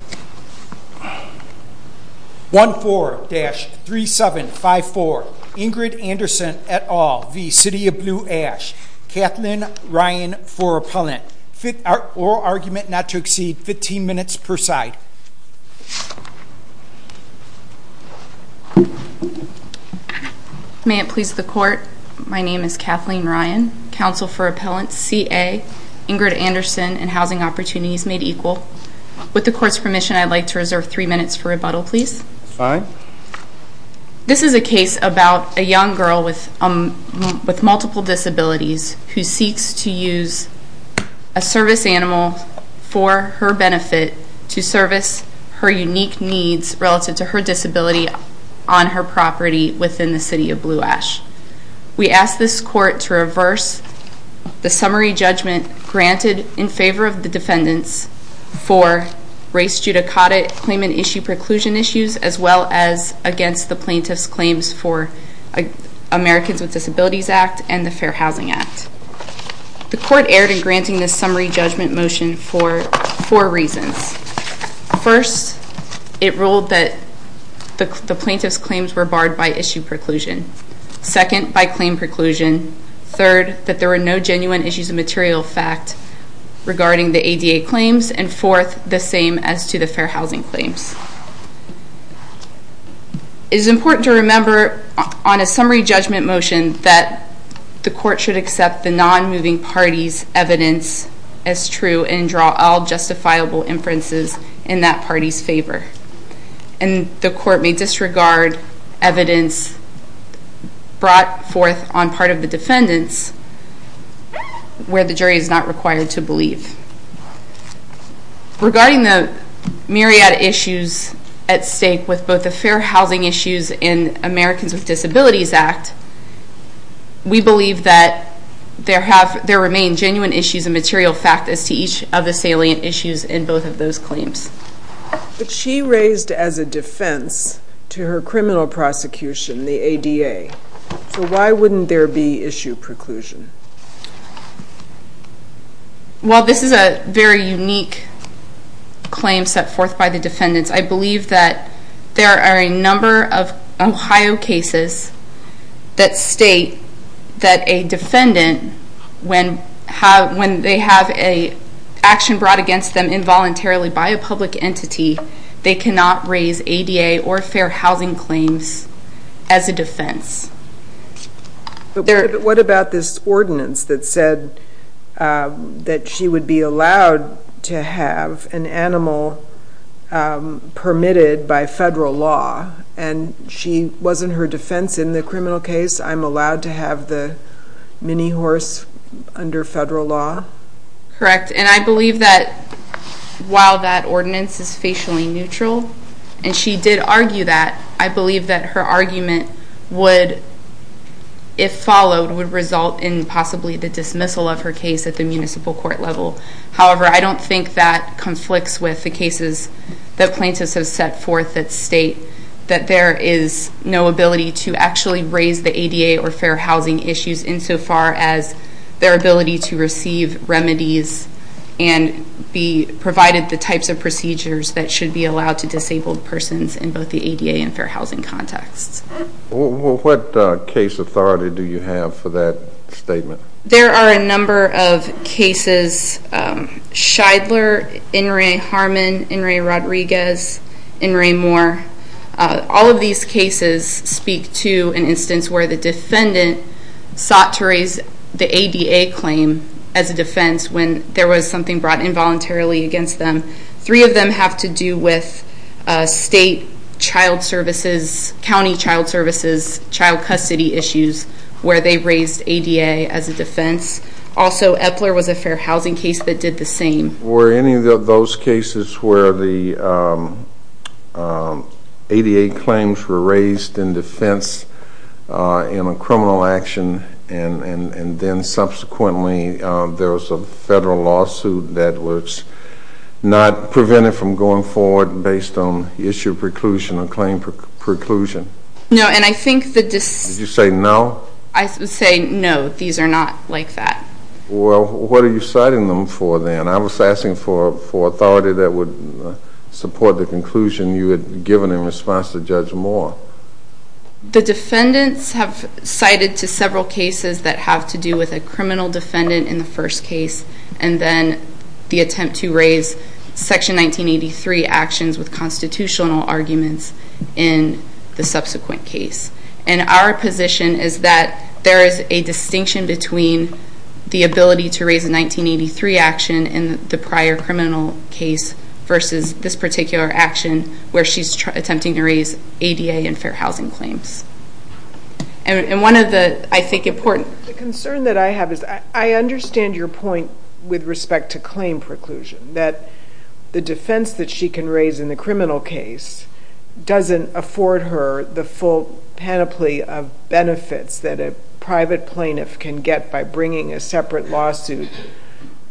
1-4-3754 Ingrid Anderson et al v. City of Blue Ash Kathleen Ryan for appellant oral argument not to exceed 15 minutes per side May it please the court my name is Kathleen Ryan counsel for appellant CA Ingrid Anderson and housing opportunities made equal with the court's permission. I'd like to reserve three minutes for rebuttal, please fine This is a case about a young girl with um with multiple disabilities who seeks to use a service animal For her benefit to service her unique needs relative to her disability on her property within the City of Blue Ash We asked this court to reverse The summary judgment granted in favor of the defendants for race judicata claimant issue preclusion issues as well as against the plaintiff's claims for Americans with Disabilities Act and the Fair Housing Act The court erred in granting this summary judgment motion for four reasons first it ruled that The plaintiff's claims were barred by issue preclusion Second by claim preclusion third that there were no genuine issues of material fact Regarding the ADA claims and fourth the same as to the Fair Housing claims It is important to remember on a summary judgment motion that the court should accept the non-moving parties evidence as true and draw all justifiable inferences in that party's favor and The court may disregard Evidence brought forth on part of the defendants Where the jury is not required to believe Regarding the myriad issues at stake with both the Fair Housing issues in Americans with Disabilities Act We believe that There have there remain genuine issues of material fact as to each of the salient issues in both of those claims But she raised as a defense to her criminal prosecution the ADA So why wouldn't there be issue preclusion? Well, this is a very unique Claim set forth by the defendants. I believe that there are a number of Ohio cases that state that a defendant when have when they have a Involuntarily by a public entity they cannot raise ADA or Fair Housing claims as a defense But what about this ordinance that said that she would be allowed to have an animal Permitted by federal law and she wasn't her defense in the criminal case. I'm allowed to have the mini horse under federal law correct, and I believe that While that ordinance is facially neutral and she did argue that I believe that her argument would If followed would result in possibly the dismissal of her case at the municipal court level however I don't think that conflicts with the cases that plaintiffs have set forth that state that there is no ability to actually raise the ADA or Fair Housing issues insofar as their ability to receive remedies and Be provided the types of procedures that should be allowed to disabled persons in both the ADA and Fair Housing context What case authority do you have for that statement? There are a number of cases Scheidler, In re Harmon, In re Rodriguez, In re Moore All of these cases speak to an instance where the defendant Sought to raise the ADA claim as a defense when there was something brought involuntarily against them three of them have to do with state child services County child services child custody issues where they raised ADA as a defense also Epler was a Fair Housing case that did the same. Were any of those cases where the ADA claims were raised in defense In a criminal action and and and then subsequently there was a federal lawsuit that was Not prevented from going forward based on the issue of preclusion or claim Preclusion. No, and I think that this you say no. I say no these are not like that Well, what are you citing them for then? I was asking for for authority that would Support the conclusion you had given in response to Judge Moore The defendants have cited to several cases that have to do with a criminal defendant in the first case and then the attempt to raise section 1983 actions with constitutional arguments in the subsequent case and our position is that there is a distinction between The ability to raise a 1983 action in the prior criminal case Versus this particular action where she's attempting to raise ADA and Fair Housing claims And one of the I think important concern that I have is I understand your point with respect to claim preclusion that The defense that she can raise in the criminal case Doesn't afford her the full panoply of benefits that a private plaintiff can get by bringing a separate lawsuit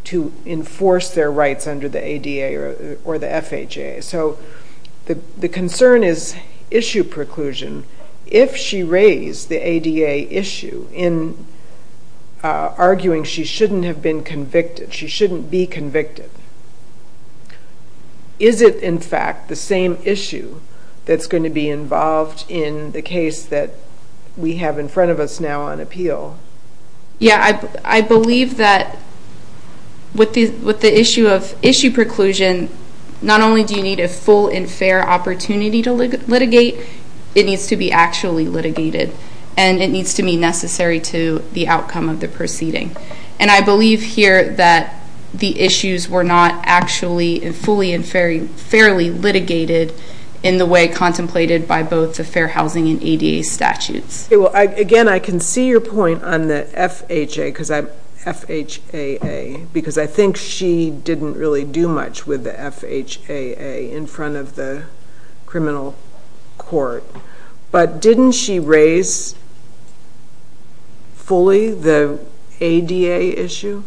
To enforce their rights under the ADA or the FHA so The the concern is issue preclusion if she raised the ADA issue in Arguing she shouldn't have been convicted. She shouldn't be convicted Is it in fact the same issue That's going to be involved in the case that we have in front of us now on appeal Yeah, I believe that With these with the issue of issue preclusion Not only do you need a full and fair opportunity to litigate It needs to be actually litigated and it needs to be necessary to the outcome of the proceeding And I believe here that the issues were not actually and fully and fairly fairly Litigated in the way contemplated by both the Fair Housing and ADA statutes. Well again, I can see your point FHA because I FHAA Because I think she didn't really do much with the FHAA in front of the criminal court But didn't she raise Fully the ADA issue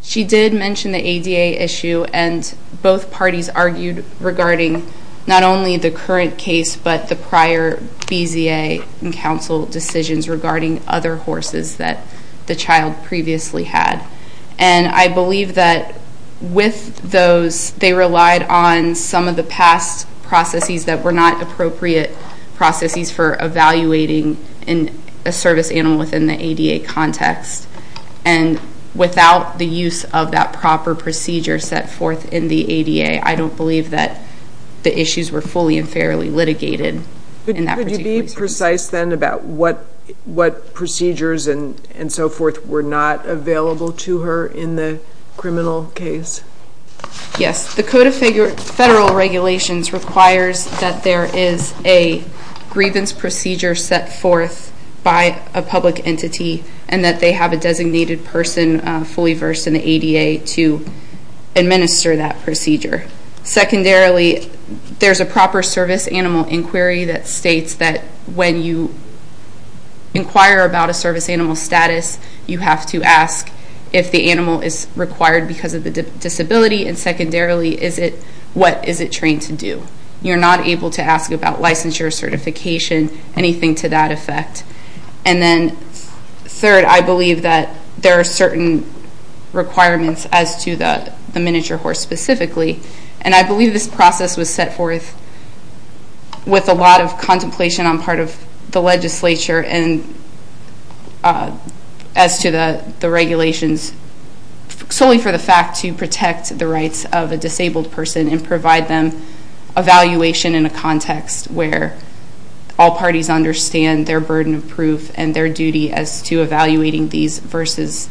She did mention the ADA issue and both parties argued regarding not only the current case But the prior BZA and council decisions regarding other horses that the child previously had and I believe that With those they relied on some of the past processes that were not appropriate processes for evaluating in a service animal within the ADA context and Without the use of that proper procedure set forth in the ADA I don't believe that the issues were fully and fairly litigated In that would you be precise then about what what procedures and and so forth were not available to her in the criminal case yes, the Code of Federal Regulations requires that there is a grievance procedure set forth by a public entity and that they have a designated person fully versed in the ADA to Administer that procedure secondarily, there's a proper service animal inquiry that states that when you Inquire about a service animal status you have to ask if the animal is required because of the disability and secondarily Is it what is it trained to do? You're not able to ask about licensure certification anything to that effect and then Third I believe that there are certain Requirements as to the the miniature horse specifically and I believe this process was set forth with a lot of contemplation on part of the legislature and As to the the regulations Solely for the fact to protect the rights of a disabled person and provide them evaluation in a context where all parties understand their burden of proof and their duty as to evaluating these versus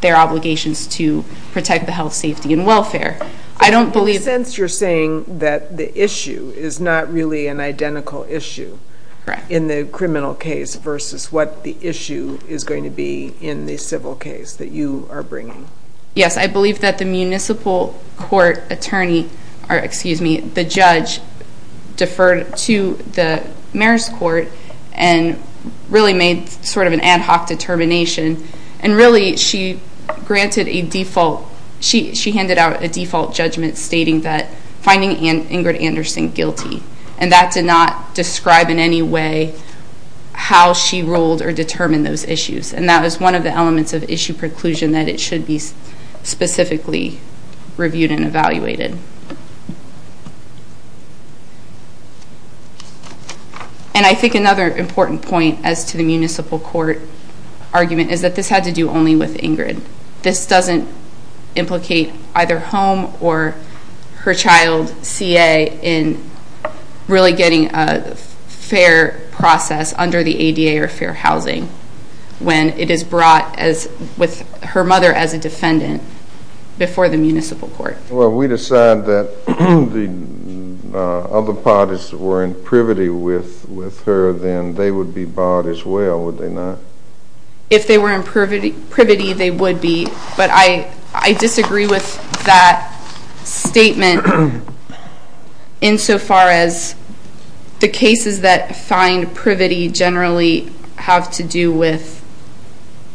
Their obligations to protect the health safety and welfare I don't believe since you're saying that the issue is not really an identical issue In the criminal case versus what the issue is going to be in the civil case that you are bringing Yes, I believe that the municipal court attorney or excuse me the judge deferred to the mayor's court and Really made sort of an ad hoc determination and really she Granted a default. She handed out a default judgment stating that finding in Ingrid Anderson guilty and that did not describe in any way How she ruled or determined those issues and that was one of the elements of issue preclusion that it should be specifically reviewed and evaluated And I think another important point as to the municipal court Argument is that this had to do only with Ingrid. This doesn't implicate either home or her child CA in really getting a Fair process under the ADA or fair housing When it is brought as with her mother as a defendant Before the municipal court. Well, we decide that the Other parties were in privity with with her then they would be bought as well. Would they not? If they were in privity privity, they would be but I I disagree with that statement in so far as the cases that find privity generally have to do with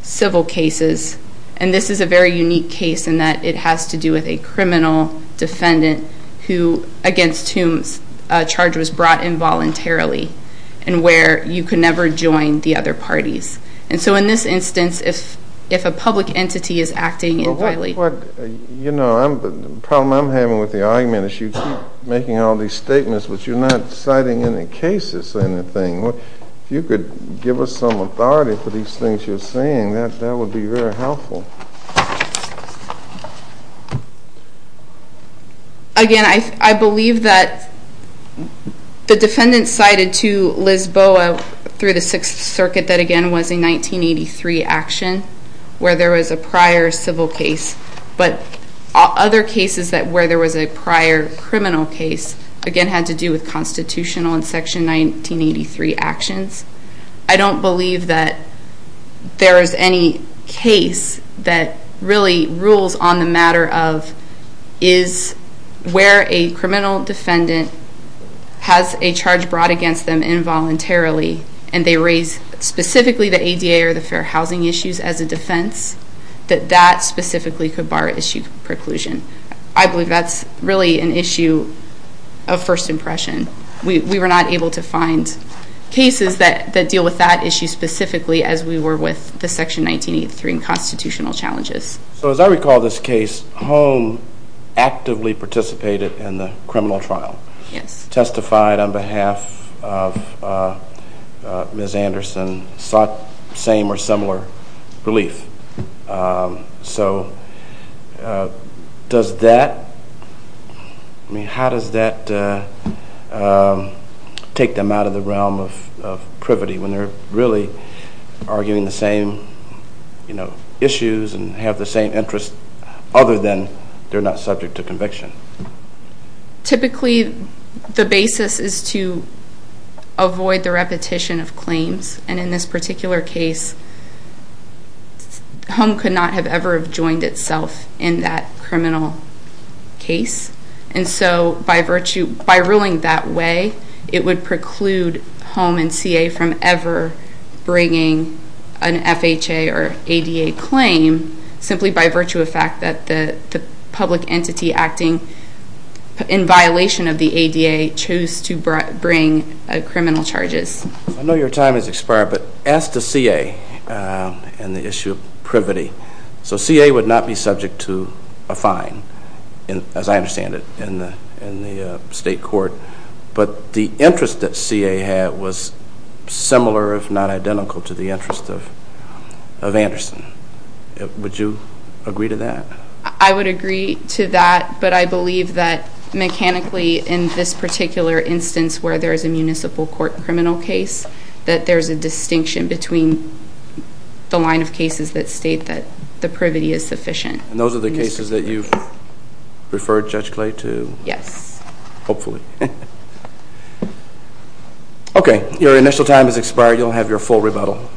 Civil cases and this is a very unique case in that it has to do with a criminal defendant who against whom charge was brought involuntarily and where you could never join the other parties and so in this instance if if a public entity is acting in You know, I'm problem. I'm having with the argument issue making all these statements, but you're not citing any cases anything If you could give us some authority for these things you're saying that that would be very helpful Again I believe that The defendant cited to Lisboa through the Sixth Circuit that again was in 1983 action Where there was a prior civil case, but other cases that where there was a prior criminal case again had to do with 1983 actions, I don't believe that there is any case that really rules on the matter of is Where a criminal defendant Has a charge brought against them involuntarily and they raise Specifically the ADA or the fair housing issues as a defense that that specifically could bar issue preclusion I believe that's really an issue of First-impression we were not able to find Cases that that deal with that issue specifically as we were with the section 1983 and constitutional challenges So as I recall this case home Actively participated in the criminal trial. Yes testified on behalf of Ms. Anderson sought same or similar relief so Does that Mean how does that Take them out of the realm of Privity when they're really Arguing the same You know issues and have the same interest other than they're not subject to conviction Typically the basis is to avoid the repetition of claims and in this particular case Home could not have ever have joined itself in that criminal case And so by virtue by ruling that way, it would preclude home and CA from ever bringing an FHA or ADA claim simply by virtue of fact that the public entity acting In violation of the ADA chose to bring criminal charges. I know your time has expired but as to CA And the issue of privity so CA would not be subject to a fine and as I understand it in the in the state court, but the interest that CA had was similar if not identical to the interest of Anderson Would you agree to that? I would agree to that, but I believe that mechanically in this particular instance where there is a municipal court criminal case that there's a distinction between The line of cases that state that the privity is sufficient. And those are the cases that you've Referred Judge Clay to? Yes. Hopefully Okay, your initial time has expired you'll have your full rebuttal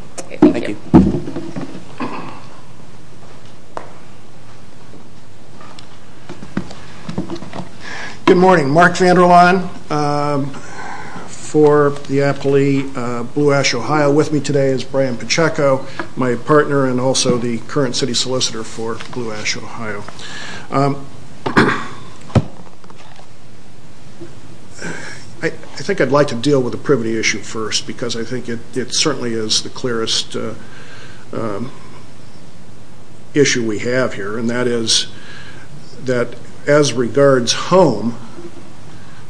Good morning, Mark Vander Laan For the appellee Blue Ash, Ohio with me today is Brian Pacheco my partner and also the current city solicitor for Blue Ash, Ohio. I Think I'd like to deal with the privity issue first because I think it certainly is the clearest Issue we have here and that is that as regards home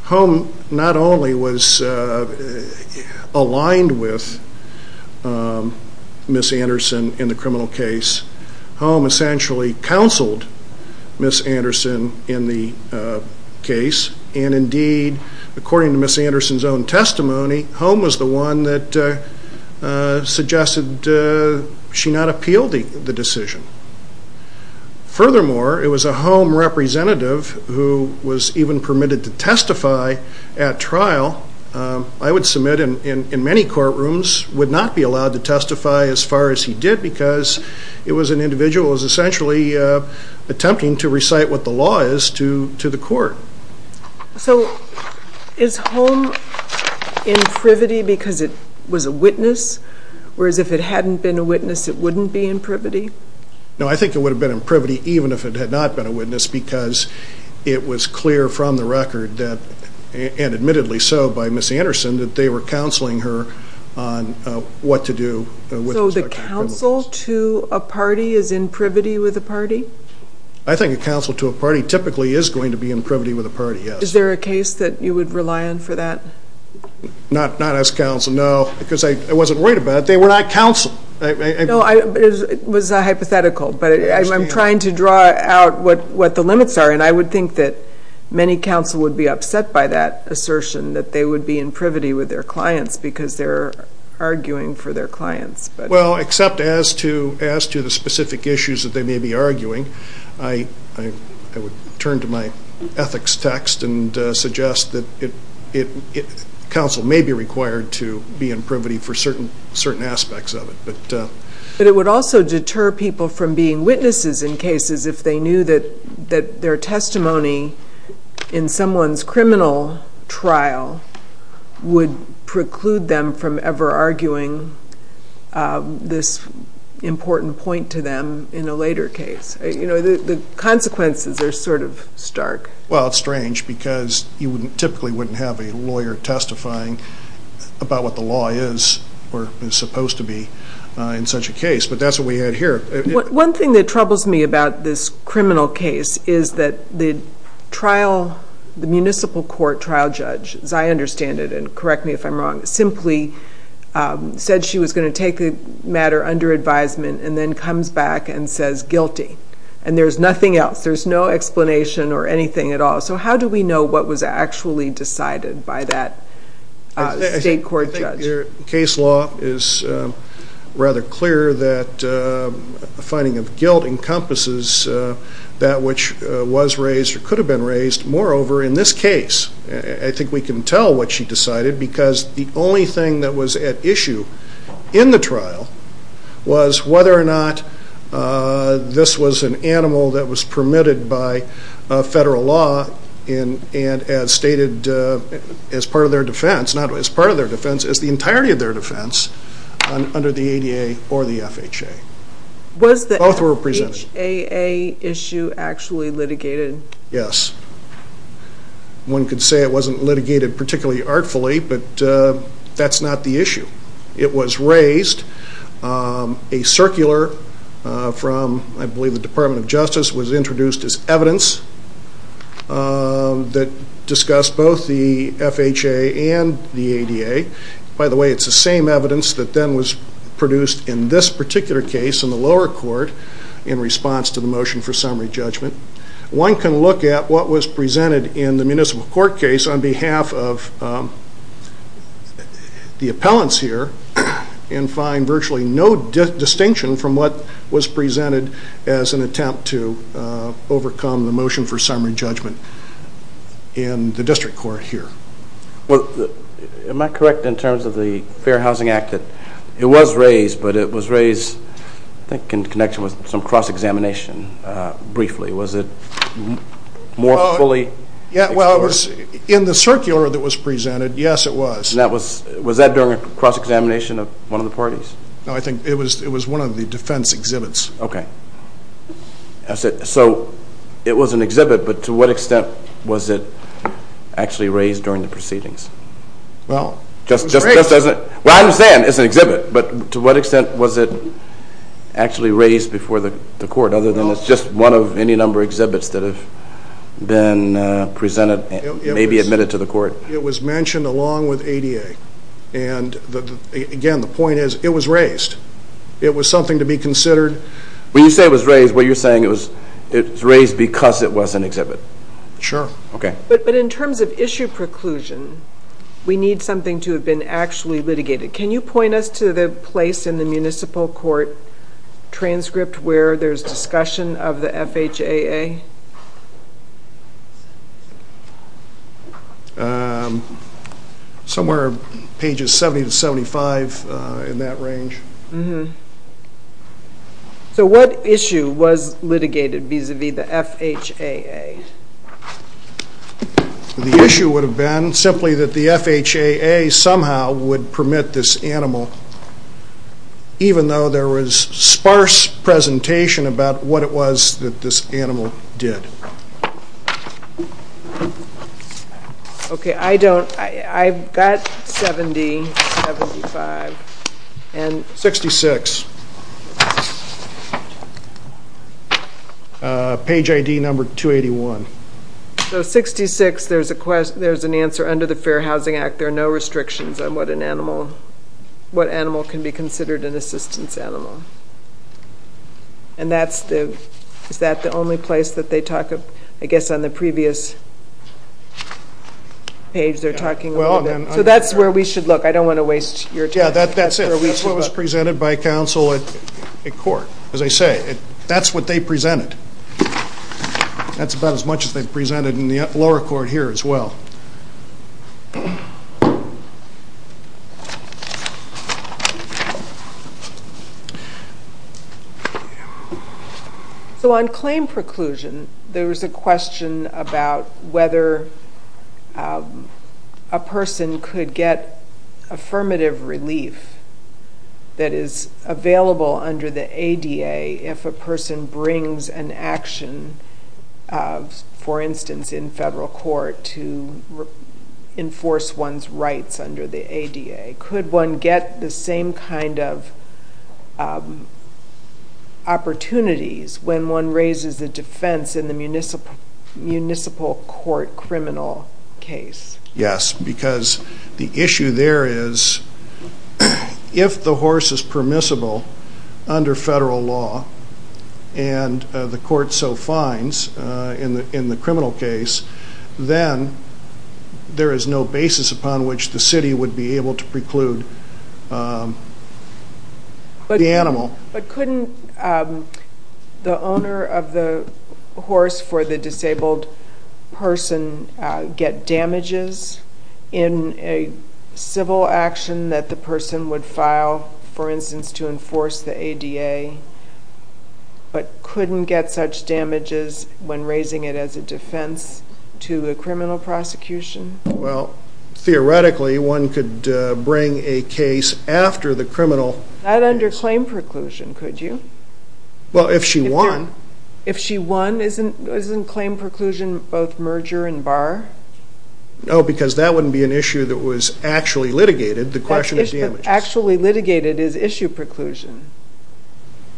Home not only was Aligned with Miss Anderson in the criminal case home essentially counseled Miss Anderson in the case and indeed according to Miss Anderson's own testimony home was the one that Suggested she not appealed the decision Furthermore it was a home representative who was even permitted to testify at trial I would submit in many courtrooms would not be allowed to testify as far as he did because It was an individual is essentially Attempting to recite what the law is to to the court so is home In privity because it was a witness whereas if it hadn't been a witness it wouldn't be in privity no, I think it would have been in privity even if it had not been a witness because It was clear from the record that and admittedly so by Miss Anderson that they were counseling her on What to do with the council to a party is in privity with a party I think a council to a party typically is going to be in privity with a party Yes, is there a case that you would rely on for that? Not not as counsel. No because I wasn't worried about they were not counsel. I know I Was a hypothetical But I'm trying to draw out what what the limits are and I would think that Many counsel would be upset by that assertion that they would be in privity with their clients because they're Arguing for their clients, but well except as to as to the specific issues that they may be arguing I Turn to my ethics text and suggest that it Counsel may be required to be in privity for certain certain aspects of it But but it would also deter people from being witnesses in cases if they knew that that their testimony in someone's criminal trial Would preclude them from ever arguing this Important point to them in a later case, you know, the consequences are sort of stark Well, it's strange because you wouldn't typically wouldn't have a lawyer testifying About what the law is or is supposed to be in such a case, but that's what we had here one thing that troubles me about this criminal case is that the Trial the municipal court trial judge as I understand it and correct me if I'm wrong simply Said she was going to take a matter under advisement and then comes back and says guilty and there's nothing else There's no explanation or anything at all. So, how do we know what was actually decided by that? State court judge your case law is rather clear that finding of guilt encompasses That which was raised or could have been raised moreover in this case I think we can tell what she decided because the only thing that was at issue in the trial was whether or not This was an animal that was permitted by Federal law in and as stated as part of their defense not as part of their defense as the entirety of their defense under the ADA or the FHA Was the author represented a a issue actually litigated? Yes One could say it wasn't litigated particularly artfully, but that's not the issue. It was raised a circular From I believe the Department of Justice was introduced as evidence That discussed both the FHA and the ADA by the way It's the same evidence that then was produced in this particular case in the lower court in response to the motion for summary judgment one can look at what was presented in the municipal court case on behalf of The appellants here and find virtually no distinction from what was presented as an attempt to overcome the motion for summary judgment in the district court here. Well am I correct in terms of the Fair Housing Act that it was raised, but it was raised I think in connection with some cross-examination briefly was it More fully yeah, well it was in the circular that was presented Yes, it was that was was that during a cross-examination of one of the parties No, I think it was it was one of the defense exhibits, okay? That's it so it was an exhibit, but to what extent was it actually raised during the proceedings Well, just just doesn't well. I understand. It's an exhibit, but to what extent was it actually raised before the court other than it's just one of any number exhibits that have been presented maybe admitted to the court it was mentioned along with ADA and Again the point is it was raised It was something to be considered when you say it was raised what you're saying It was it's raised because it was an exhibit sure okay, but in terms of issue preclusion We need something to have been actually litigated. Can you point us to the place in the municipal court? Transcript where there's discussion of the FHAA Somewhere pages 70 to 75 in that range mm-hmm So what issue was litigated vis-a-vis the FHAA? The issue would have been simply that the FHAA somehow would permit this animal Even though there was sparse presentation about what it was that this animal did Okay, I don't I've got 70 75 and 66 Page ID number 281 So 66 there's a question. There's an answer under the Fair Housing Act. There are no restrictions on what an animal What animal can be considered an assistance animal and That's the is that the only place that they talk of I guess on the previous Page they're talking well, so that's where we should look. I don't want to waste your time Yeah, that that's what was presented by counsel at a court as I say it. That's what they presented That's about as much as they've presented in the lower court here as well So On claim preclusion there was a question about whether a person could get affirmative relief That is available under the ADA if a person brings an action for instance in federal court to Get the same kind of Opportunities when one raises the defense in the municipal municipal court criminal case yes because the issue there is if the horse is permissible under federal law and the court so finds in the in the criminal case then There is no basis upon which the city would be able to preclude But the animal but couldn't the owner of the horse for the disabled person get damages in a Civil action that the person would file for instance to enforce the ADA But couldn't get such damages when raising it as a defense to the criminal prosecution well Theoretically one could bring a case after the criminal not under claim preclusion. Could you? Well if she won if she won isn't isn't claim preclusion both merger and bar No, because that wouldn't be an issue that was actually litigated the question is actually litigated is issue preclusion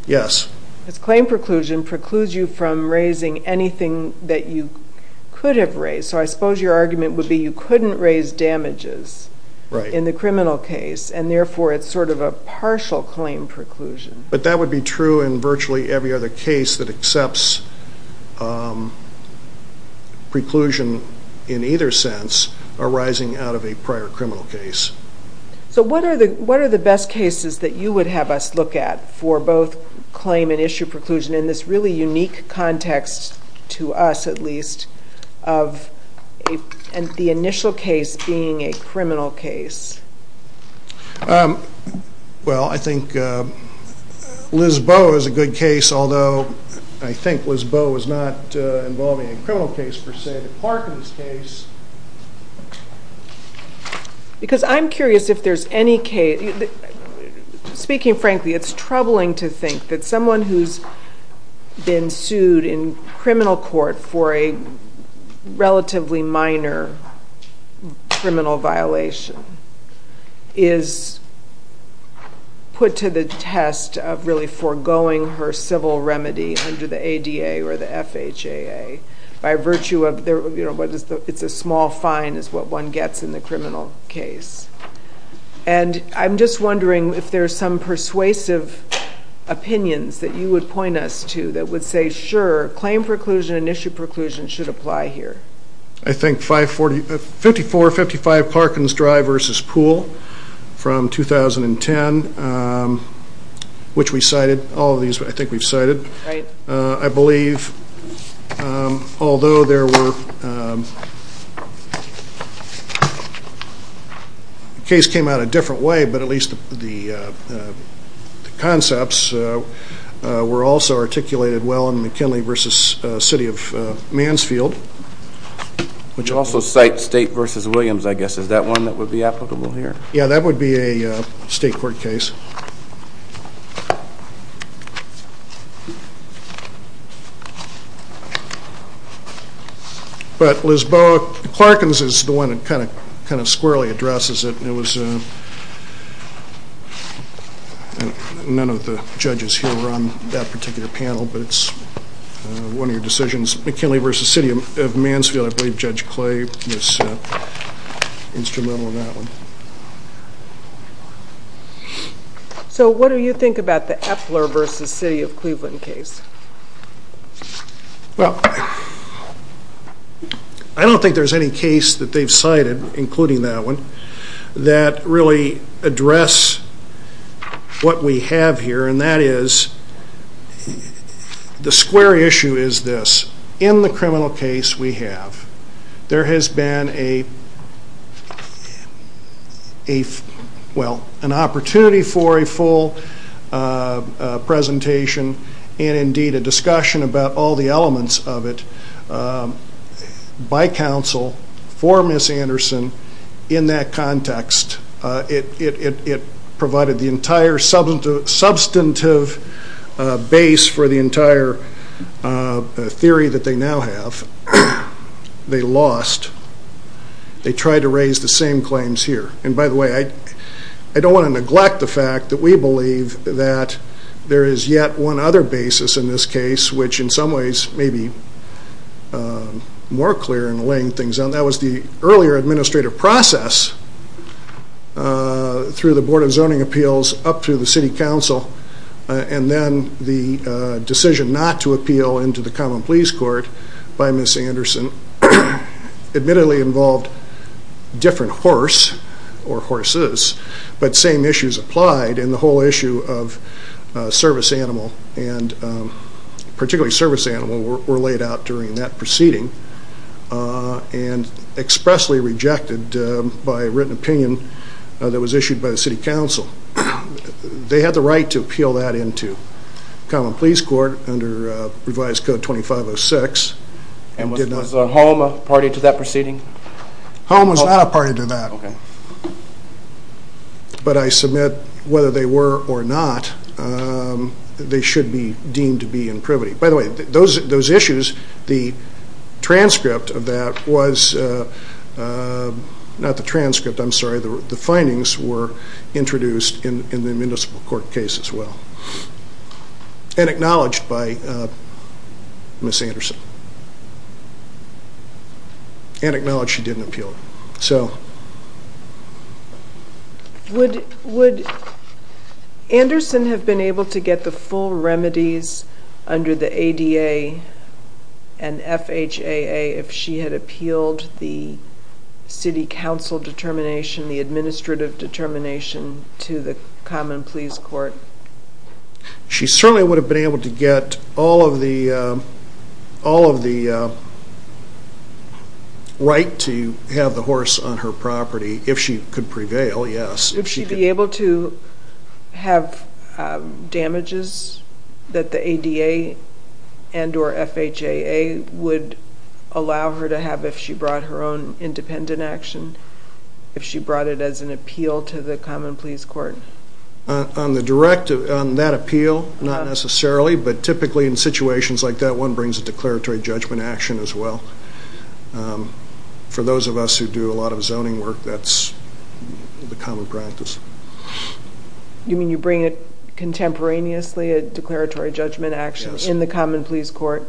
Yes, it's claim preclusion precludes you from raising anything that you could have raised So I suppose your argument would be you couldn't raise damages Right in the criminal case and therefore. It's sort of a partial claim preclusion, but that would be true in virtually every other case that accepts Preclusion in either sense arising out of a prior criminal case So what are the what are the best cases that you would have us look at for both? Claim and issue preclusion in this really unique context to us at least of A and the initial case being a criminal case Well I think Liz Bo is a good case although. I think Liz Bo is not involving a criminal case for say the Parkins case Because I'm curious if there's any case Speaking frankly it's troubling to think that someone who's been sued in criminal court for a relatively minor Criminal violation is Put to the test of really foregoing her civil remedy under the ADA or the FHAA By virtue of there, you know, what is the it's a small fine is what one gets in the criminal case and I'm just wondering if there's some persuasive Opinions that you would point us to that would say sure claim preclusion and issue preclusion should apply here I think 540 54 55 Parkins drive versus pool from 2010 Which we cited all of these, but I think we've cited I believe Although there were The case came out a different way, but at least the Concepts Were also articulated well in McKinley versus city of Mansfield Which also cite state versus Williams, I guess is that one that would be applicable here. Yeah, that would be a state court case But Lisboa Parkins is the one that kind of kind of squarely addresses it it was None of the judges here run that particular panel, but it's One of your decisions McKinley versus city of Mansfield. I believe judge clay was Instrumental in that one So, what do you think about the Epler versus city of Cleveland case Well, I Don't think there's any case that they've cited including that one that really address what we have here and that is The square issue is this in the criminal case we have there has been a A well an opportunity for a full Presentation and indeed a discussion about all the elements of it By counsel for miss Anderson in that context it provided the entire substantive base for the entire Theory that they now have they lost They tried to raise the same claims here. And by the way, I I don't want to neglect the fact that we believe that There is yet one other basis in this case, which in some ways may be More clear and laying things on that was the earlier administrative process Through the Board of Zoning Appeals up through the City Council and then the Decision not to appeal into the Common Pleas Court by Miss Anderson admittedly involved different horse or horses, but same issues applied in the whole issue of service animal and Particularly service animal were laid out during that proceeding And expressly rejected by written opinion that was issued by the City Council They had the right to appeal that into Common Pleas Court under revised code 2506 and was a home a party to that proceeding Home was not a party to that But I submit whether they were or not They should be deemed to be in privity. By the way, those those issues the transcript of that was Not the transcript, I'm sorry, the findings were introduced in the Municipal Court case as well and acknowledged by Miss Anderson And acknowledged she didn't appeal so Would would Anderson have been able to get the full remedies under the ADA and FHAA if she had appealed the City Council determination the administrative determination to the Common Pleas Court she certainly would have been able to get all of the all of the Right to have the horse on her property if she could prevail yes if she'd be able to Have damages that the ADA and or FHAA would Allow her to have if she brought her own independent action if she brought it as an appeal to the Common Pleas Court On the directive on that appeal not necessarily but typically in situations like that one brings a declaratory judgment action as well For those of us who do a lot of zoning work that's the common practice You mean you bring it Contemporaneously a declaratory judgment action in the Common Pleas Court,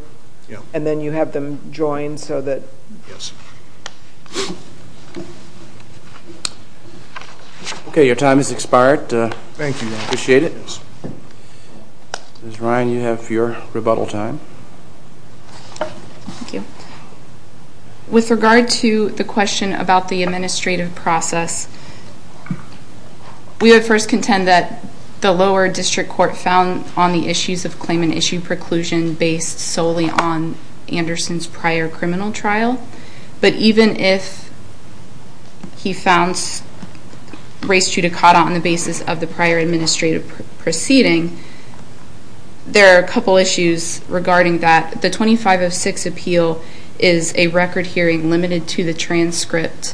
and then you have them join so that yes Okay your time has expired, thank you appreciate it. Miss Ryan you have your rebuttal time With regard to the question about the administrative process We would first contend that the lower district court found on the issues of claim and issue preclusion based solely on Anderson's prior criminal trial, but even if he founds Race to Dakota on the basis of the prior administrative proceeding There are a couple issues regarding that the 2506 appeal is a record hearing limited to the transcript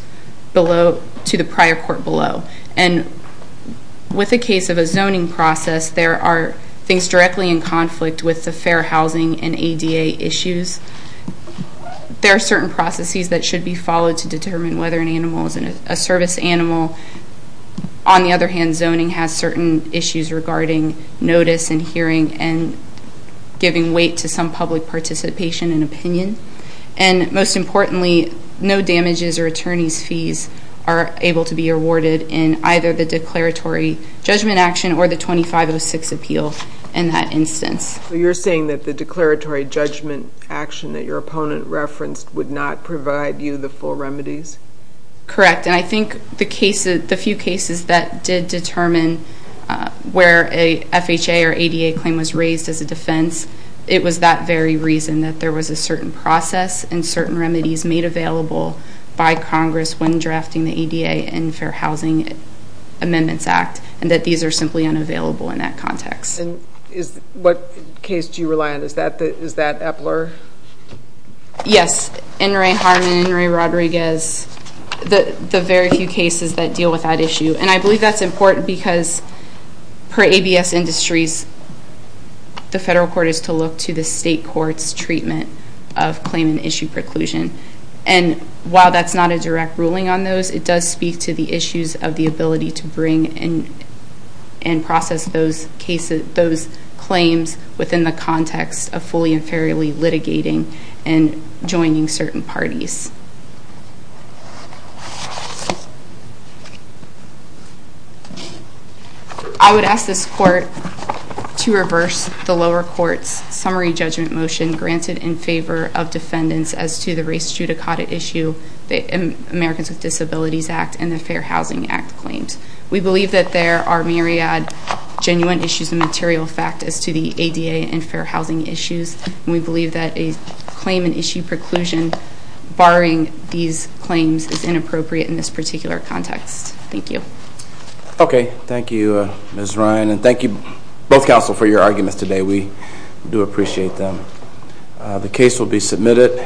Below to the prior court below and With a case of a zoning process there are things directly in conflict with the fair housing and ADA issues There are certain processes that should be followed to determine whether an animal is in a service animal on the other hand zoning has certain issues regarding notice and hearing and To some public participation and opinion and Most importantly no damages or attorneys fees are able to be awarded in either the declaratory Judgment action or the 2506 appeal in that instance So you're saying that the declaratory judgment action that your opponent referenced would not provide you the full remedies Correct, and I think the cases the few cases that did determine Where a FHA or ADA claim was raised as a defense It was that very reason that there was a certain process and certain remedies made available By Congress when drafting the ADA and Fair Housing Amendments Act and that these are simply unavailable in that context and is what case do you rely on is that that is that Epler? Yes, and Ray Harmon Ray Rodriguez The the very few cases that deal with that issue and I believe that's important because per ABS industries the federal court is to look to the state courts treatment of claim and issue preclusion and while that's not a direct ruling on those it does speak to the issues of the ability to bring in and process those cases those claims within the context of fully and fairly litigating and joining certain parties I Would ask this court to reverse the lower courts summary judgment motion granted in favor of defendants as to the race judicata issue the Americans with Disabilities Act and the Fair Housing Act claims. We believe that there are myriad Genuine issues and material fact as to the ADA and Fair Housing issues. We believe that a claim and issue preclusion Barring these claims is inappropriate in this particular context. Thank you Okay. Thank you. Ms. Ryan and thank you both counsel for your arguments today. We do appreciate them The case will be submitted